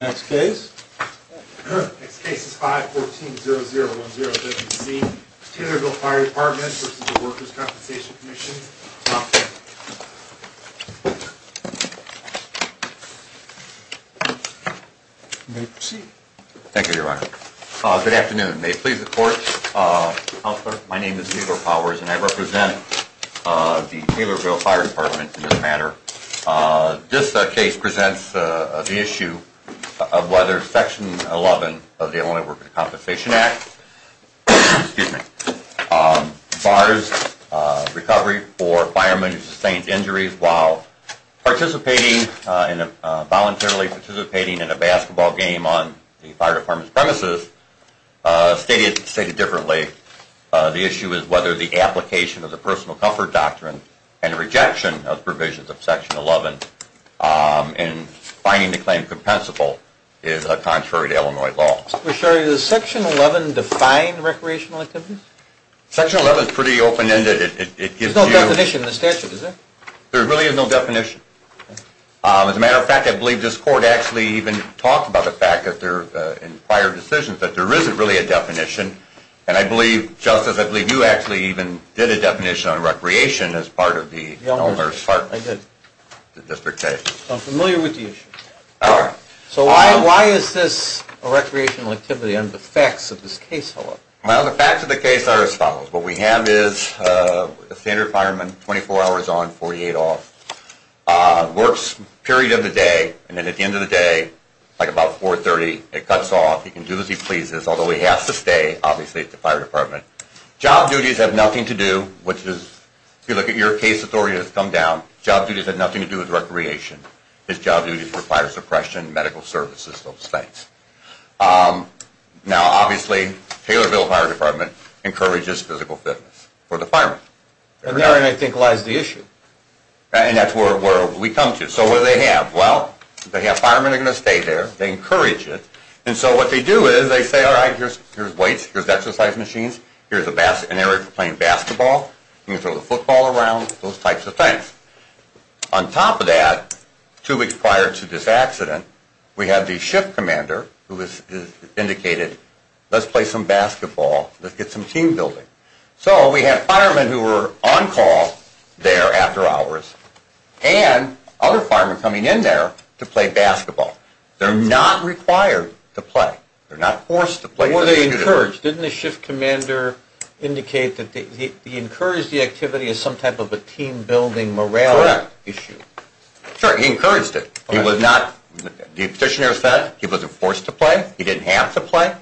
Next case. Next case is 5-14-00-10-15-C. Taylorville Fire Department v. Workers' Compensation Commission. Counselor, you may proceed. Thank you, Your Honor. Good afternoon. May it please the Court. Counselor, my name is Neal O'Powers, and I represent the Taylorville Fire Department in this matter. This case presents the issue of whether Section 11 of the Illinois Workers' Compensation Act bars recovery for firemen who sustained injuries while participating in a basketball game on the fire department's premises. Stated differently, the issue is whether the application of the Personal Comfort Doctrine and rejection of provisions of Section 11 in finding the claim compensable is contrary to Illinois law. Mr. McSherry, does Section 11 define recreational activities? Section 11 is pretty open-ended. There's no definition in the statute, is there? There really is no definition. As a matter of fact, I believe this Court actually even talked about the fact in prior decisions that there isn't really a definition. And I believe, Justice, I believe you actually even did a definition on recreation as part of the Illinois Department's district case. I'm familiar with the issue. So why is this a recreational activity under the facts of this case, however? Well, the facts of the case are as follows. What we have is a standard fireman, 24 hours on, 48 off, works a period of the day, and then at the end of the day, like about 4.30, it cuts off. He can do as he pleases, although he has to stay, obviously, at the fire department. Job duties have nothing to do, which is, if you look at your case authority that's come down, job duties have nothing to do with recreation. His job duties were fire suppression, medical services, those things. Now, obviously, Taylorville Fire Department encourages physical fitness for the fireman. And therein, I think, lies the issue. And that's where we come to. So what do they have? Well, they have firemen that are going to stay there, they encourage it, and so what they do is they say, all right, here's weights, here's exercise machines, here's an area for playing basketball, you can throw the football around, those types of things. On top of that, two weeks prior to this accident, we have the shift commander who has indicated, let's play some basketball, let's get some team building. So we have firemen who are on call there after hours, and other firemen coming in there to play basketball. They're not required to play. They're not forced to play. Were they encouraged? Didn't the shift commander indicate that he encouraged the activity as some type of a team building morale issue? Correct. Sure, he encouraged it. He was not, the petitioner said, he wasn't forced to play, he didn't have to play.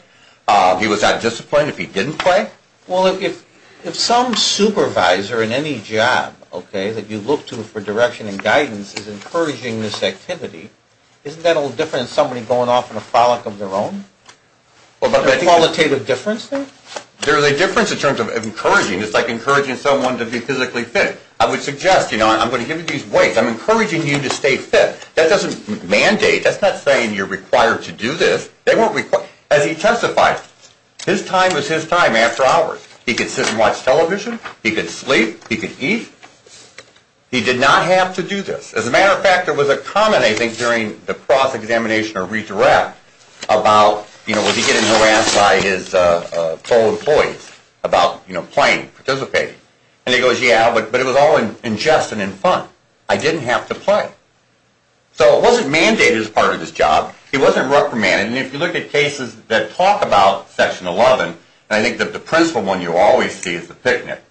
He was not disciplined if he didn't play. Well, if some supervisor in any job, okay, that you look to for direction and guidance is encouraging this activity, isn't that a little different than somebody going off on a frolic of their own? There's a qualitative difference there? There's a difference in terms of encouraging. It's like encouraging someone to be physically fit. I would suggest, you know, I'm going to give you these weights, I'm encouraging you to stay fit. That doesn't mandate, that's not saying you're required to do this. As he testified, his time was his time after hours. He could sit and watch television, he could sleep, he could eat. He did not have to do this. As a matter of fact, there was a comment, I think, during the cross-examination or redirect about, you know, was he getting harassed by his co-employees about, you know, playing, participating. And he goes, yeah, but it was all in jest and in fun. I didn't have to play. So it wasn't mandated as part of his job. He wasn't reprimanded, and if you look at cases that talk about Section 11, and I think that the principal one you always see is the picnic,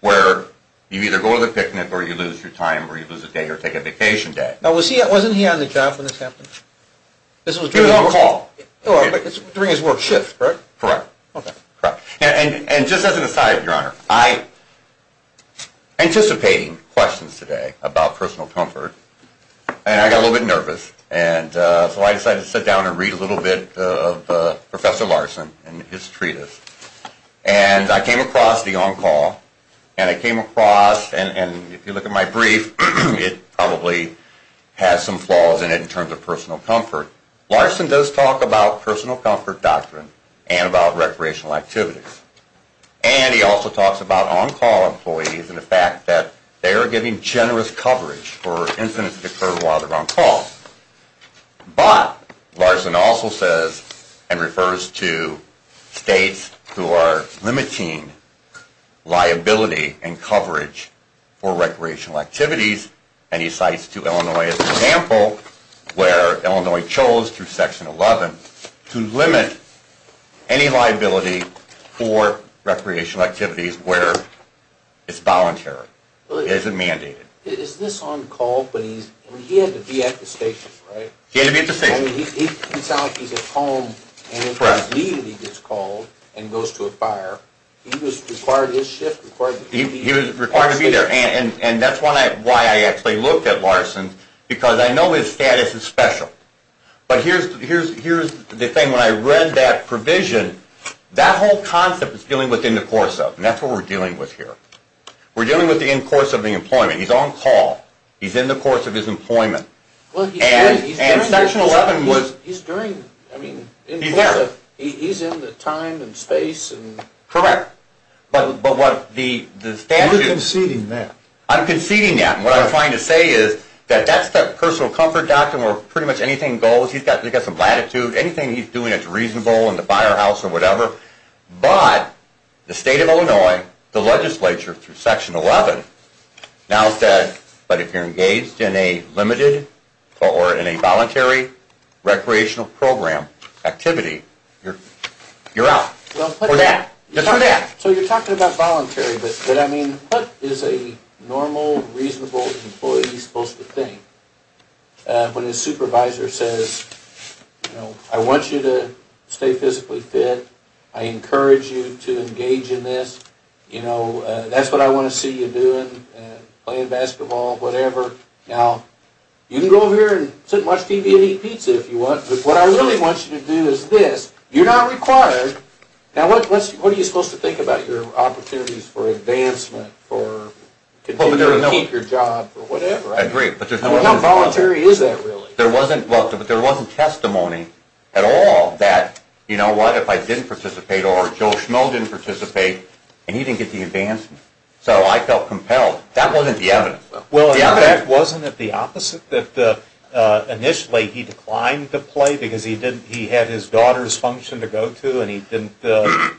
where you either go to the picnic or you lose your time or you lose a day or take a vacation day. Now, wasn't he on the job when this happened? He was on call. During his work shift, right? Correct. Okay. And just as an aside, Your Honor, I, anticipating questions today about personal comfort, and I got a little bit nervous, and so I decided to sit down and read a little bit of Professor Larson and his treatise. And I came across the on-call, and I came across, and if you look at my brief, it probably has some flaws in it in terms of personal comfort. Larson does talk about personal comfort doctrine and about recreational activities. And he also talks about on-call employees and the fact that they are giving generous coverage for incidents that occur while they're on call. But Larson also says and refers to states who are limiting liability and coverage for recreational activities, and he cites to Illinois as an example where Illinois chose through Section 11 to limit any liability for recreational activities where it's voluntary, it isn't mandated. Is this on call, but he had to be at the station, right? He had to be at the station. I mean, he's at home, and if he's needed, he gets called and goes to a fire. He was required to be there, and that's why I actually looked at Larson, because I know his status is special. But here's the thing. When I read that provision, that whole concept is dealing with in the course of, and that's what we're dealing with here. We're dealing with the in course of the employment. He's on call. He's in the course of his employment. And Section 11 was, he's there. He's in the time and space. Correct. You're conceding that. I'm conceding that, and what I'm trying to say is that that's the personal comfort doctrine where pretty much anything goes. He's got some latitude. Anything he's doing that's reasonable in the firehouse or whatever. But the state of Illinois, the legislature through Section 11 now said, but if you're engaged in a limited or in a voluntary recreational program activity, you're out. For that. Just for that. So you're talking about voluntary, but I mean, what is a normal, reasonable employee supposed to think when his supervisor says, you know, I want you to stay physically fit. I encourage you to engage in this. You know, that's what I want to see you doing, playing basketball, whatever. Now, you can go over here and sit and watch TV and eat pizza if you want, but what I really want you to do is this. You're not required. Now, what are you supposed to think about your opportunities for advancement, for continuing to keep your job or whatever? I agree. How voluntary is that, really? There wasn't testimony at all that, you know what, if I didn't participate or Joe Schmell didn't participate, and he didn't get the advancement. So I felt compelled. That wasn't the evidence, though. Well, wasn't it the opposite that initially he declined to play because he had his daughter's function to go to and he didn't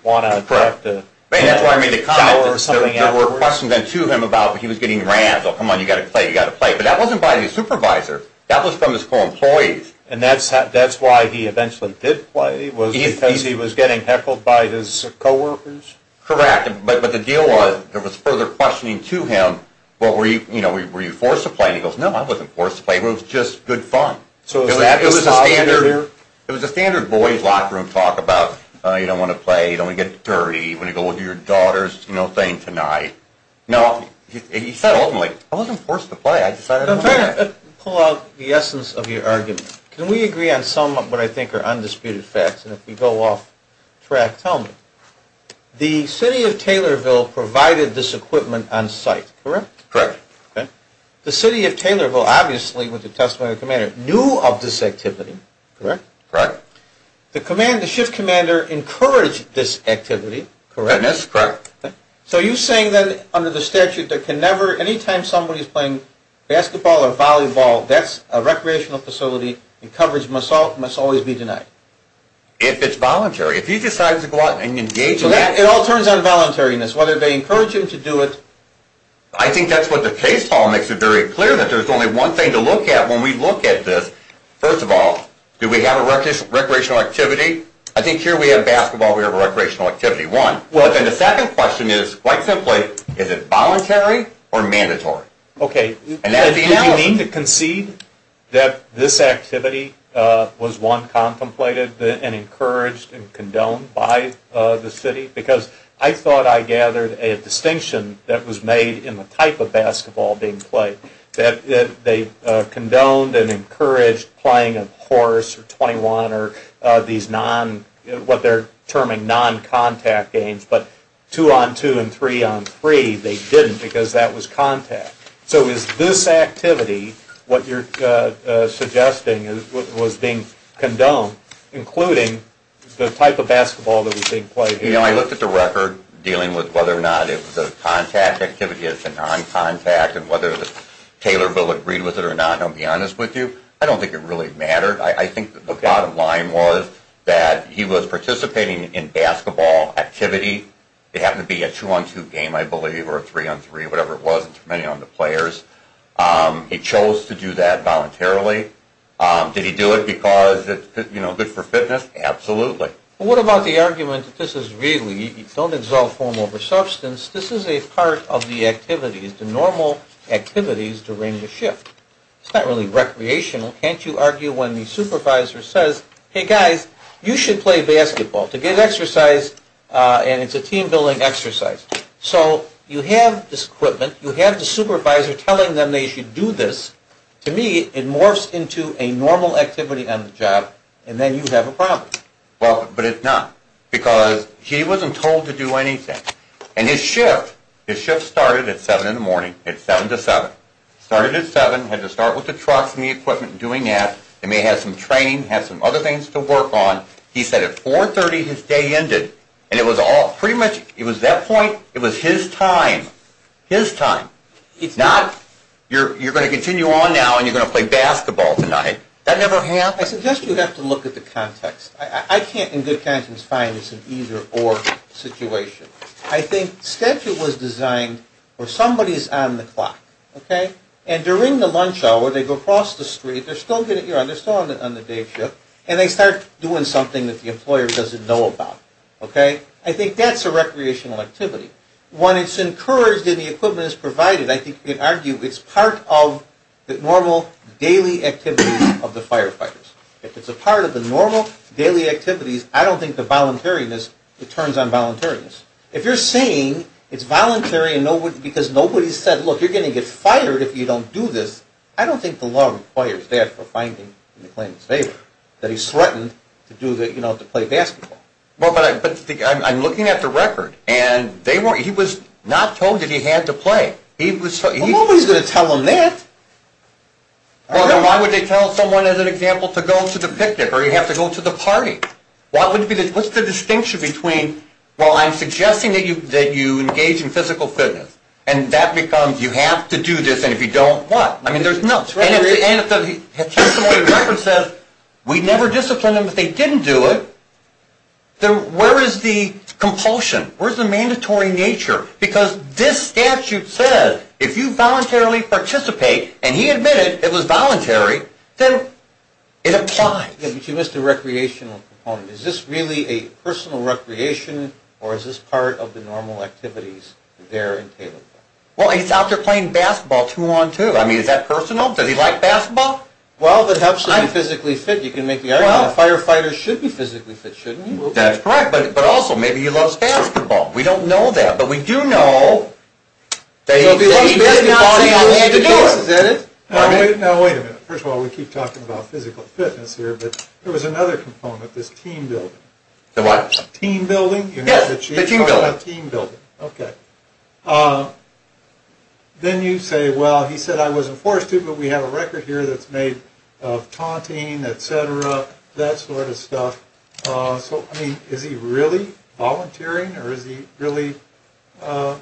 want to direct the job or something else? That's why I made the comment that there were questions then to him about when he was getting rams, oh, come on, you've got to play, you've got to play. But that wasn't by the supervisor. That was from his co-employees. And that's why he eventually did play was because he was getting heckled by his co-workers? Correct. But the deal was there was further questioning to him, well, were you forced to play? And he goes, no, I wasn't forced to play. It was just good fun. It was a standard boys' locker room talk about you don't want to play, you don't want to get dirty. You want to go do your daughter's thing tonight. No, he said ultimately, I wasn't forced to play. I decided to play. Let me pull out the essence of your argument. Can we agree on some of what I think are undisputed facts? And if we go off track, tell me. The city of Taylorville provided this equipment on site, correct? Correct. Okay. The city of Taylorville, obviously, with the testimony of the commander, knew of this activity, correct? Correct. The shift commander encouraged this activity, correct? That's correct. So you're saying then under the statute that can never, anytime somebody's playing basketball or volleyball, that's a recreational facility and coverage must always be denied? If it's voluntary. If he decides to go out and engage in that. It all turns on voluntariness, whether they encourage him to do it. I think that's what the case file makes it very clear that there's only one thing to look at when we look at this. First of all, do we have a recreational activity? I think here we have basketball, we have a recreational activity, one. But then the second question is, quite simply, is it voluntary or mandatory? Okay. Do you mean to concede that this activity was one contemplated and encouraged and condoned by the city? Because I thought I gathered a distinction that was made in the type of basketball being played. They condoned and encouraged playing a horse or 21 or these non, what they're terming non-contact games. But two-on-two and three-on-three, they didn't because that was contact. So is this activity what you're suggesting was being condoned, including the type of basketball that was being played here? You know, I looked at the record dealing with whether or not the contact activity is a non-contact and whether Taylorville agreed with it or not, and I'll be honest with you, I don't think it really mattered. I think the bottom line was that he was participating in basketball activity. It happened to be a two-on-two game, I believe, or a three-on-three, whatever it was, depending on the players. He chose to do that voluntarily. Did he do it because it's good for fitness? Absolutely. Well, what about the argument that this is really, don't exalt form over substance, this is a part of the activities, the normal activities during the shift. It's not really recreational. Can't you argue when the supervisor says, hey, guys, you should play basketball to get exercise, and it's a team-building exercise. So you have this equipment, you have the supervisor telling them they should do this. To me, it morphs into a normal activity on the job, and then you have a problem. Well, but it's not, because he wasn't told to do anything. And his shift, his shift started at 7 in the morning, at 7 to 7. Started at 7, had to start with the trucks and the equipment and doing that. They may have some training, have some other things to work on. He said at 4.30 his day ended, and it was all pretty much, it was that point, it was his time. His time. It's not, you're going to continue on now and you're going to play basketball tonight. That never happened. I suggest you have to look at the context. I can't, in good conscience, find it's an either-or situation. I think statute was designed where somebody is on the clock, okay? And during the lunch hour, they go across the street, they're still on the day shift, and they start doing something that the employer doesn't know about, okay? I think that's a recreational activity. When it's encouraged and the equipment is provided, I think you can argue it's part of the normal daily activities of the firefighters. If it's a part of the normal daily activities, I don't think the voluntariness, it turns on voluntariness. If you're saying it's voluntary because nobody said, look, you're going to get fired if you don't do this, I don't think the law requires that for finding a claimant's favor, that he's threatened to play basketball. But I'm looking at the record, and he was not told that he had to play. Nobody's going to tell him that. Well, then why would they tell someone, as an example, to go to the picnic, or you have to go to the party? What's the distinction between, well, I'm suggesting that you engage in physical fitness, and that becomes you have to do this, and if you don't, what? I mean, there's no choice. And if somebody references, we never disciplined them if they didn't do it, where is the compulsion? Where's the mandatory nature? Because this statute says if you voluntarily participate, and he admitted it was voluntary, then it applies. But you missed the recreational component. Is this really a personal recreation, or is this part of the normal activities there in Taylorville? Well, he's out there playing basketball too long, too. I mean, is that personal? Does he like basketball? Well, that helps him be physically fit. You can make the argument that a firefighter should be physically fit, shouldn't he? That's correct. But also, maybe he loves basketball. We don't know that, but we do know that he did not say he wanted to do it. Now, wait a minute. First of all, we keep talking about physical fitness here, but there was another component, this team building. The what? Team building. Yes, the team building. Okay. Then you say, well, he said I wasn't forced to, but we have a record here that's made of taunting, et cetera, that sort of stuff. So, I mean, is he really volunteering, or is he really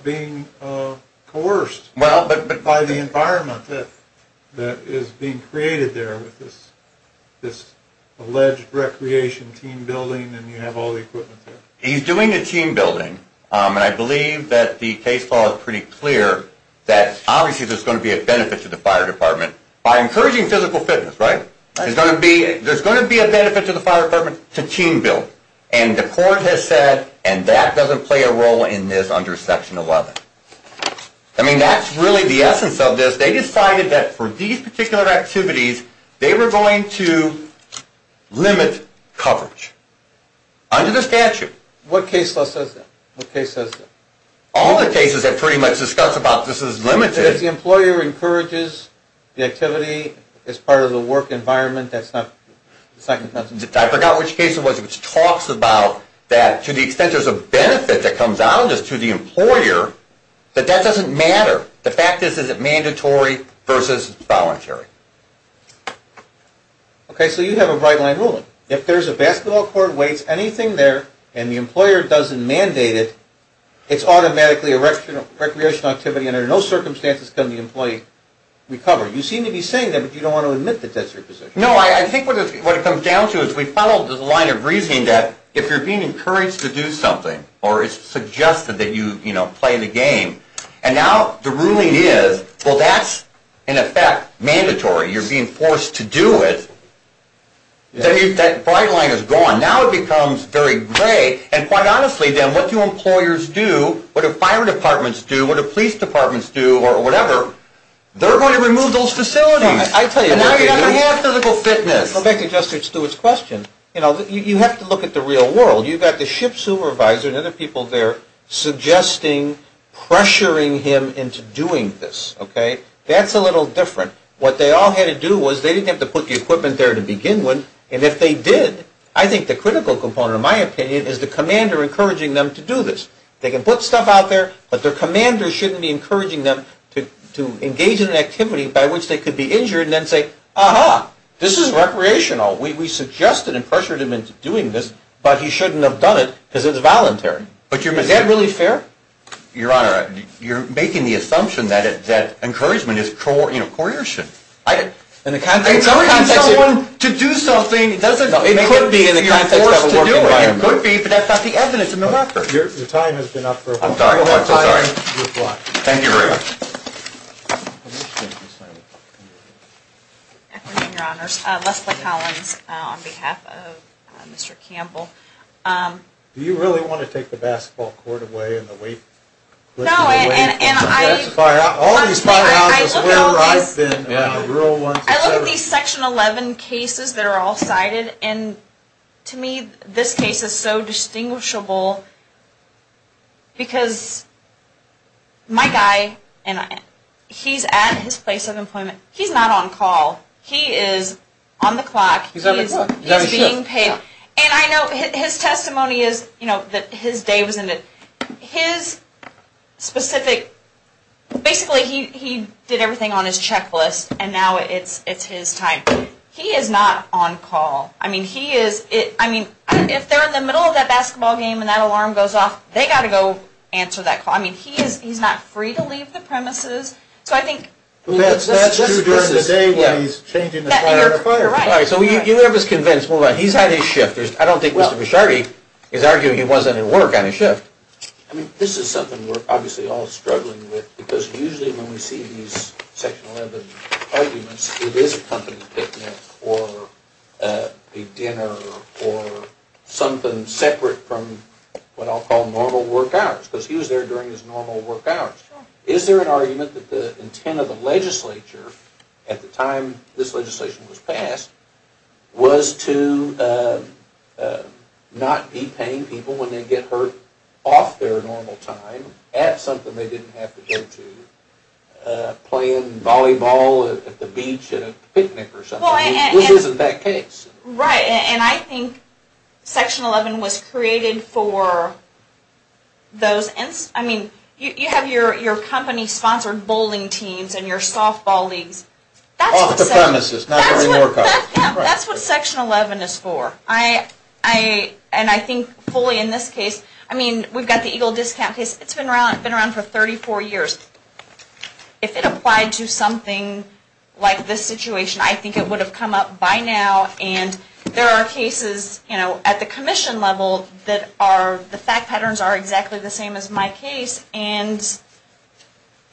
being coerced by the environment that is being created there with this alleged recreation team building and you have all the equipment there? He's doing the team building, and I believe that the case law is pretty clear that obviously there's going to be a benefit to the fire department by encouraging physical fitness, right? There's going to be a benefit to the fire department to team building, and the court has said, and that doesn't play a role in this under Section 11. I mean, that's really the essence of this. They decided that for these particular activities, they were going to limit coverage under the statute. What case law says that? What case says that? All the cases have pretty much discussed about this is limited. If the employer encourages the activity as part of the work environment, that's not the second sentence. I forgot which case it was which talks about that to the extent there's a benefit that comes out just to the employer, but that doesn't matter. The fact is, is it mandatory versus voluntary? Okay. So, you have a bright line ruling. If there's a basketball court, weights, anything there, and the employer doesn't mandate it, it's automatically a recreational activity, and under no circumstances can the employee recover. You seem to be saying that, but you don't want to admit that that's your position. No, I think what it comes down to is we follow the line of reasoning that if you're being encouraged to do something or it's suggested that you play the game, and now the ruling is, well, that's, in effect, mandatory. You're being forced to do it. That bright line is gone. Now it becomes very gray, and quite honestly, then, what do employers do, what do fire departments do, what do police departments do, or whatever? They're going to remove those facilities. I tell you. And now you're going to have physical fitness. To go back to Justice Stewart's question, you know, you have to look at the real world. You've got the ship supervisor and other people there suggesting, pressuring him into doing this, okay? That's a little different. What they all had to do was they didn't have to put the equipment there to begin with, and if they did, I think the critical component, in my opinion, is the commander encouraging them to do this. They can put stuff out there, but their commander shouldn't be encouraging them to engage in an activity by which they could be injured and then say, aha, this is recreational. We suggested and pressured him into doing this, but he shouldn't have done it because it's voluntary. Is that really fair? Your Honor, you're making the assumption that encouragement is coercion. Encouraging someone to do something doesn't make it that you're forced to do it. It could be, but that's not the evidence. Your time has been up for a while. I'm sorry. Thank you very much. Good afternoon, Your Honors. Leslie Collins on behalf of Mr. Campbell. Do you really want to take the basketball court away and the weightlifting away from the classifier? No, and I look at these Section 11 cases that are all cited, and to me, this case is so distinguishable because my guy, he's at his place of employment. He's not on call. He is on the clock. He's on the clock. He's being paid. And I know his testimony is that his day was ended. His specific, basically he did everything on his checklist, and now it's his time. He is not on call. If they're in the middle of that basketball game and that alarm goes off, they've got to go answer that call. He's not free to leave the premises. That's true during the day when he's changing the fire. You're right. You have us convinced. He's had his shift. I don't think Mr. Bishardi is arguing he wasn't at work on his shift. This is something we're obviously all struggling with because usually when we see these Section 11 arguments, it is a company picnic or a dinner or something separate from what I'll call normal work hours because he was there during his normal work hours. Is there an argument that the intent of the legislature at the time this legislation was passed was to not be paying people when they get hurt off their normal time at something they didn't have to go to, playing volleyball at the beach at a picnic or something? This isn't that case. Right. And I think Section 11 was created for those. I mean, you have your company-sponsored bowling teams and your softball leagues. Off the premises. That's what Section 11 is for. And I think fully in this case, I mean, we've got the Eagle Discount case. It's been around for 34 years. If it applied to something like this situation, I think it would have come up by now, and there are cases at the commission level that the fact patterns are exactly the same as my case, and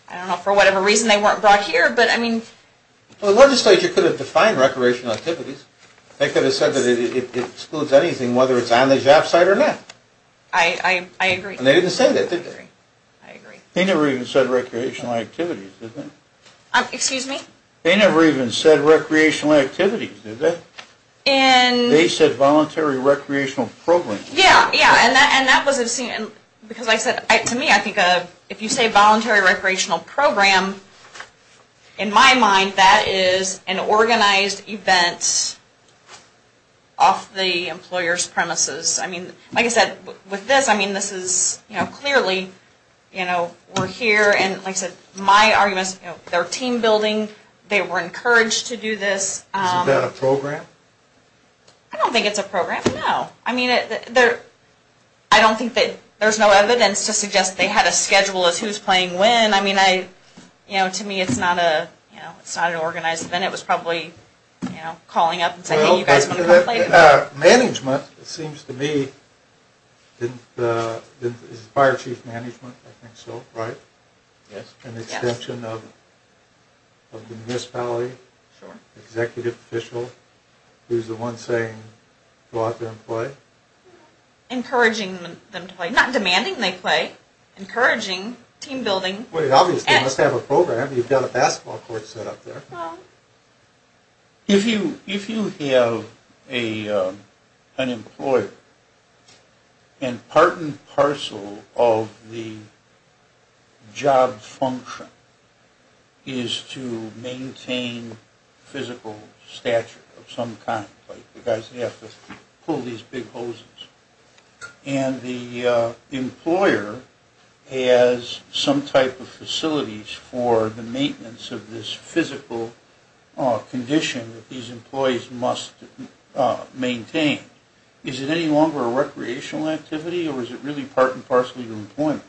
I don't know, for whatever reason they weren't brought here, but I mean. Well, the legislature could have defined recreational activities. They could have said that it excludes anything, whether it's on the job site or not. I agree. And they didn't say that, did they? I agree. They never even said recreational activities, did they? Excuse me? They never even said recreational activities, did they? They said voluntary recreational programs. Yeah, yeah, and that was a scene, because I said, to me, I think if you say voluntary recreational program, in my mind, that is an organized event off the employer's premises. I mean, like I said, with this, I mean, this is, you know, clearly, you know, we're here, and like I said, my argument is, you know, they're team building. They were encouraged to do this. Is that a program? I don't think it's a program, no. I mean, I don't think that there's no evidence to suggest they had a schedule as to who's playing when. I mean, I, you know, to me, it's not a, you know, it's not an organized event. It was probably, you know, calling up and saying, hey, you guys want to come play? Management, it seems to me, didn't, this is fire chief management, I think so, right? Yes. An extension of the municipality. Sure. Executive official, who's the one saying go out there and play. Encouraging them to play. I'm not demanding they play. Encouraging. Team building. Well, obviously, they must have a program. You've got a basketball court set up there. If you have an employer, and part and parcel of the job function is to maintain physical stature of some kind, like the guys that have to pull these big hoses, and the employer has some type of facilities for the maintenance of this physical condition that these employees must maintain, is it any longer a recreational activity, or is it really part and parcel of your employment?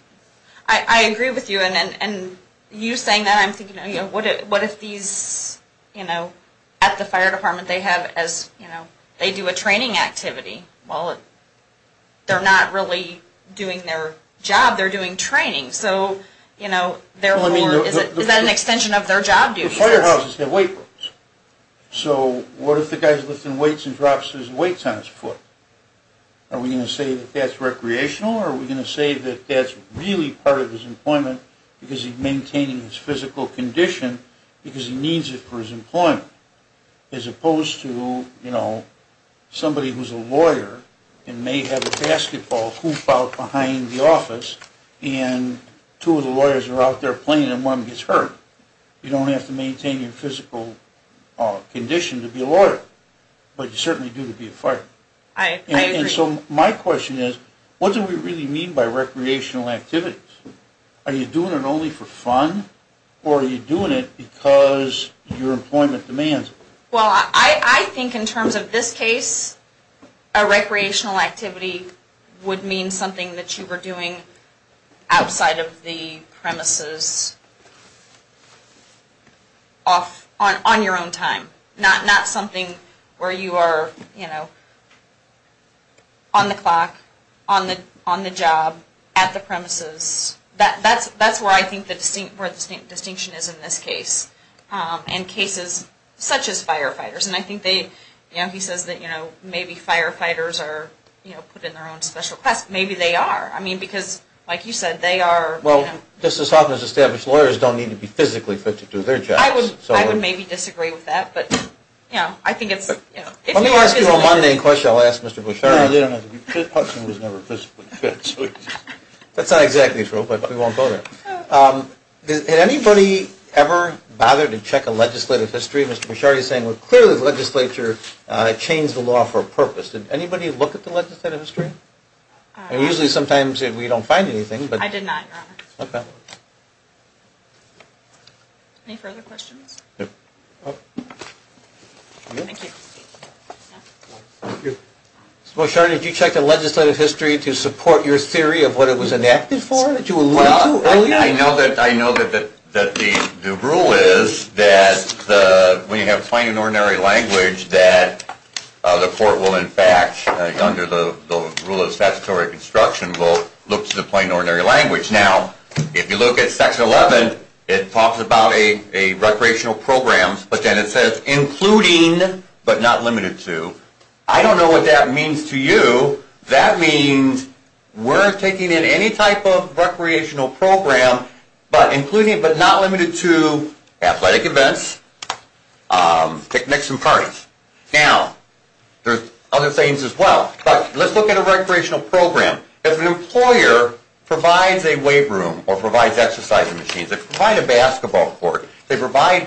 I agree with you, and you saying that, I'm thinking, what if these, you know, at the fire department they have as, you know, they do a training activity. Well, they're not really doing their job. They're doing training. So, you know, is that an extension of their job duties? The firehouse is their weight rooms. So what if the guy's lifting weights and drops his weights on his foot? Are we going to say that that's recreational, or are we going to say that that's really part of his employment because he's maintaining his physical condition because he needs it for his employment? As opposed to, you know, somebody who's a lawyer and may have a basketball hoop out behind the office, and two of the lawyers are out there playing, and one gets hurt. You don't have to maintain your physical condition to be a lawyer, but you certainly do to be a fireman. I agree. And so my question is, what do we really mean by recreational activities? Are you doing it only for fun, or are you doing it because your employment demands it? Well, I think in terms of this case, a recreational activity would mean something that you were doing outside of the premises on your own time, not something where you are, you know, on the clock, on the job, at the premises. That's where I think the distinction is in this case, and cases such as firefighters. And I think they, you know, he says that, you know, maybe firefighters are, you know, put in their own special class. Maybe they are. I mean, because, like you said, they are, you know. Well, just as often as established lawyers don't need to be physically put to do their jobs. I would maybe disagree with that, but, you know, I think it's, you know. Let me ask you a one-name question I'll ask Mr. Bushari. No, they don't have to be physically put to do their jobs. That's not exactly true, but we won't go there. Has anybody ever bothered to check a legislative history? Mr. Bushari is saying, well, clearly the legislature changed the law for a purpose. Did anybody look at the legislative history? Usually sometimes we don't find anything. I did not, Your Honor. Okay. Any further questions? No. Thank you. Thank you. Mr. Bushari, did you check the legislative history to support your theory of what it was enacted for that you alluded to earlier? Well, I know that the rule is that when you have plain and ordinary language that the court will, in fact, under the rule of statutory construction, will look to the plain and ordinary language. Now, if you look at Section 11, it talks about a recreational program, but then it says including but not limited to. I don't know what that means to you. That means we're taking in any type of recreational program, but including but not limited to athletic events, picnics and parties. Now, there's other things as well, but let's look at a recreational program. If an employer provides a weight room or provides exercise machines, if they provide a basketball court, if they provide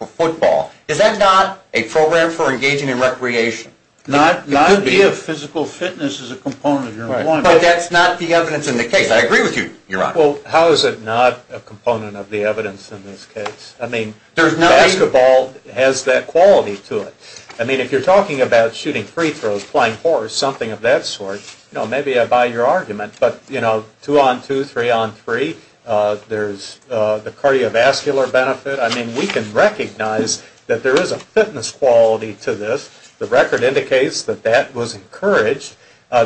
a football, is that not a program for engaging in recreation? It could be a physical fitness as a component of your employment. But that's not the evidence in the case. I agree with you, Your Honor. Well, how is it not a component of the evidence in this case? I mean, basketball has that quality to it. I mean, if you're talking about shooting free throws, playing horse, something of that sort, you know, maybe I buy your argument. But, you know, two on two, three on three, there's the cardiovascular benefit. I mean, we can recognize that there is a fitness quality to this. The record indicates that that was encouraged.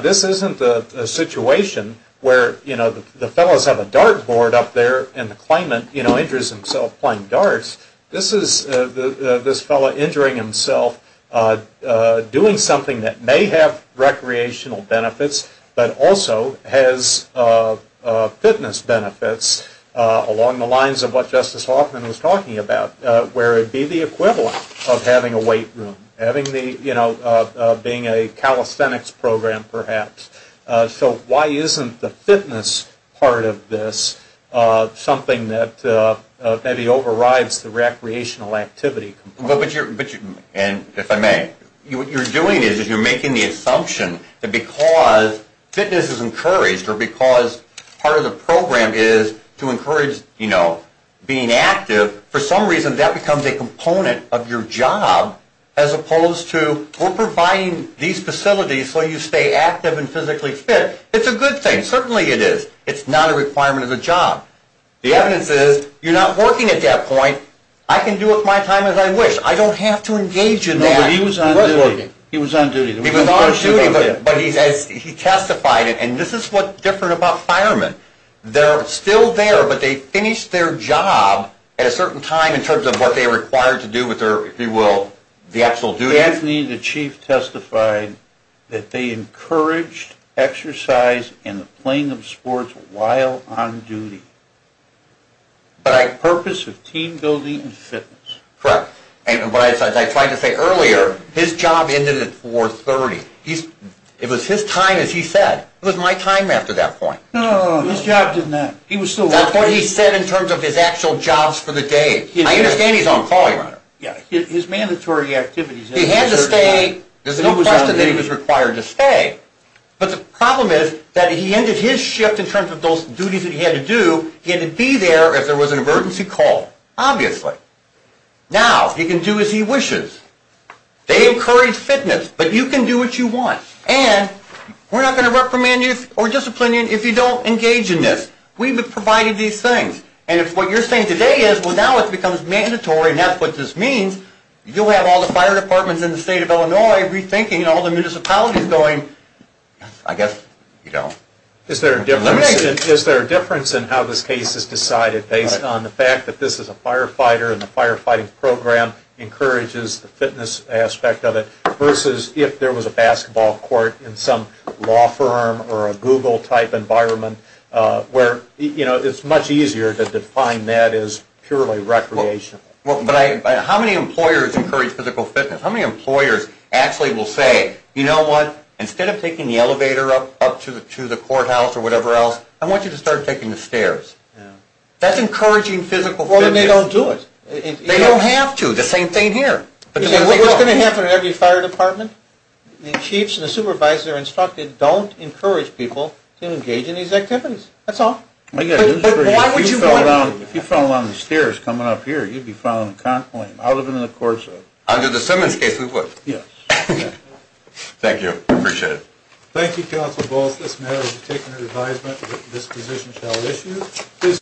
This isn't a situation where, you know, the fellows have a dart board up there and the claimant, you know, injures himself playing darts. This is this fellow injuring himself doing something that may have recreational benefits, but also has fitness benefits along the lines of what Justice Hoffman was talking about, where it would be the equivalent of having a weight room, having the, you know, being a calisthenics program perhaps. So why isn't the fitness part of this something that maybe overrides the recreational activity component? But you're, and if I may, what you're doing is you're making the assumption that because fitness is encouraged or because part of the program is to encourage, you know, being active, for some reason that becomes a component of your job as opposed to we're providing these facilities so you stay active and physically fit. It's a good thing. Certainly it is. It's not a requirement of the job. The evidence is you're not working at that point. I can do it my time as I wish. I don't have to engage in that. No, but he was on duty. He was working. He was on duty. He was on duty, but he testified, and this is what's different about firemen. They're still there, but they finish their job at a certain time in terms of what they're required to do with their, if you will, the actual duty. Anthony, the chief, testified that they encouraged exercise and the playing of sports while on duty. Purpose of team building and fitness. Correct. And what I tried to say earlier, his job ended at 430. It was his time, as he said. It was my time after that point. No, his job didn't end. He was still working. That's what he said in terms of his actual jobs for the day. I understand he's on call. Yeah, his mandatory activities. He had to stay. There's no question that he was required to stay, but the problem is that he ended his shift in terms of those duties that he had to do. He had to be there if there was an emergency call, obviously. Now, he can do as he wishes. They encourage fitness, but you can do what you want, and we're not going to reprimand you or discipline you if you don't engage in this. We've provided these things, and if what you're saying today is, well, now it becomes mandatory and that's what this means, you'll have all the fire departments in the state of Illinois rethinking all the municipalities going, I guess you don't. Is there a difference in how this case is decided based on the fact that this is a firefighter and the firefighting program encourages the fitness aspect of it versus if there was a basketball court in some law firm or a Google-type environment where it's much easier to define that as purely recreational? How many employers encourage physical fitness? How many employers actually will say, you know what, instead of taking the elevator up to the courthouse or whatever else, I want you to start taking the stairs? That's encouraging physical fitness. Well, then they don't do it. They don't have to. The same thing here. What's going to happen in every fire department? The chiefs and the supervisors are instructed, don't encourage people to engage in these activities. That's all. If you fell down the stairs coming up here, you'd be falling out of the court. Under the Simmons case, we would. Yes. Thank you. I appreciate it. Thank you, Counsel Balls. This matter has been taken into advisement. This position shall issue.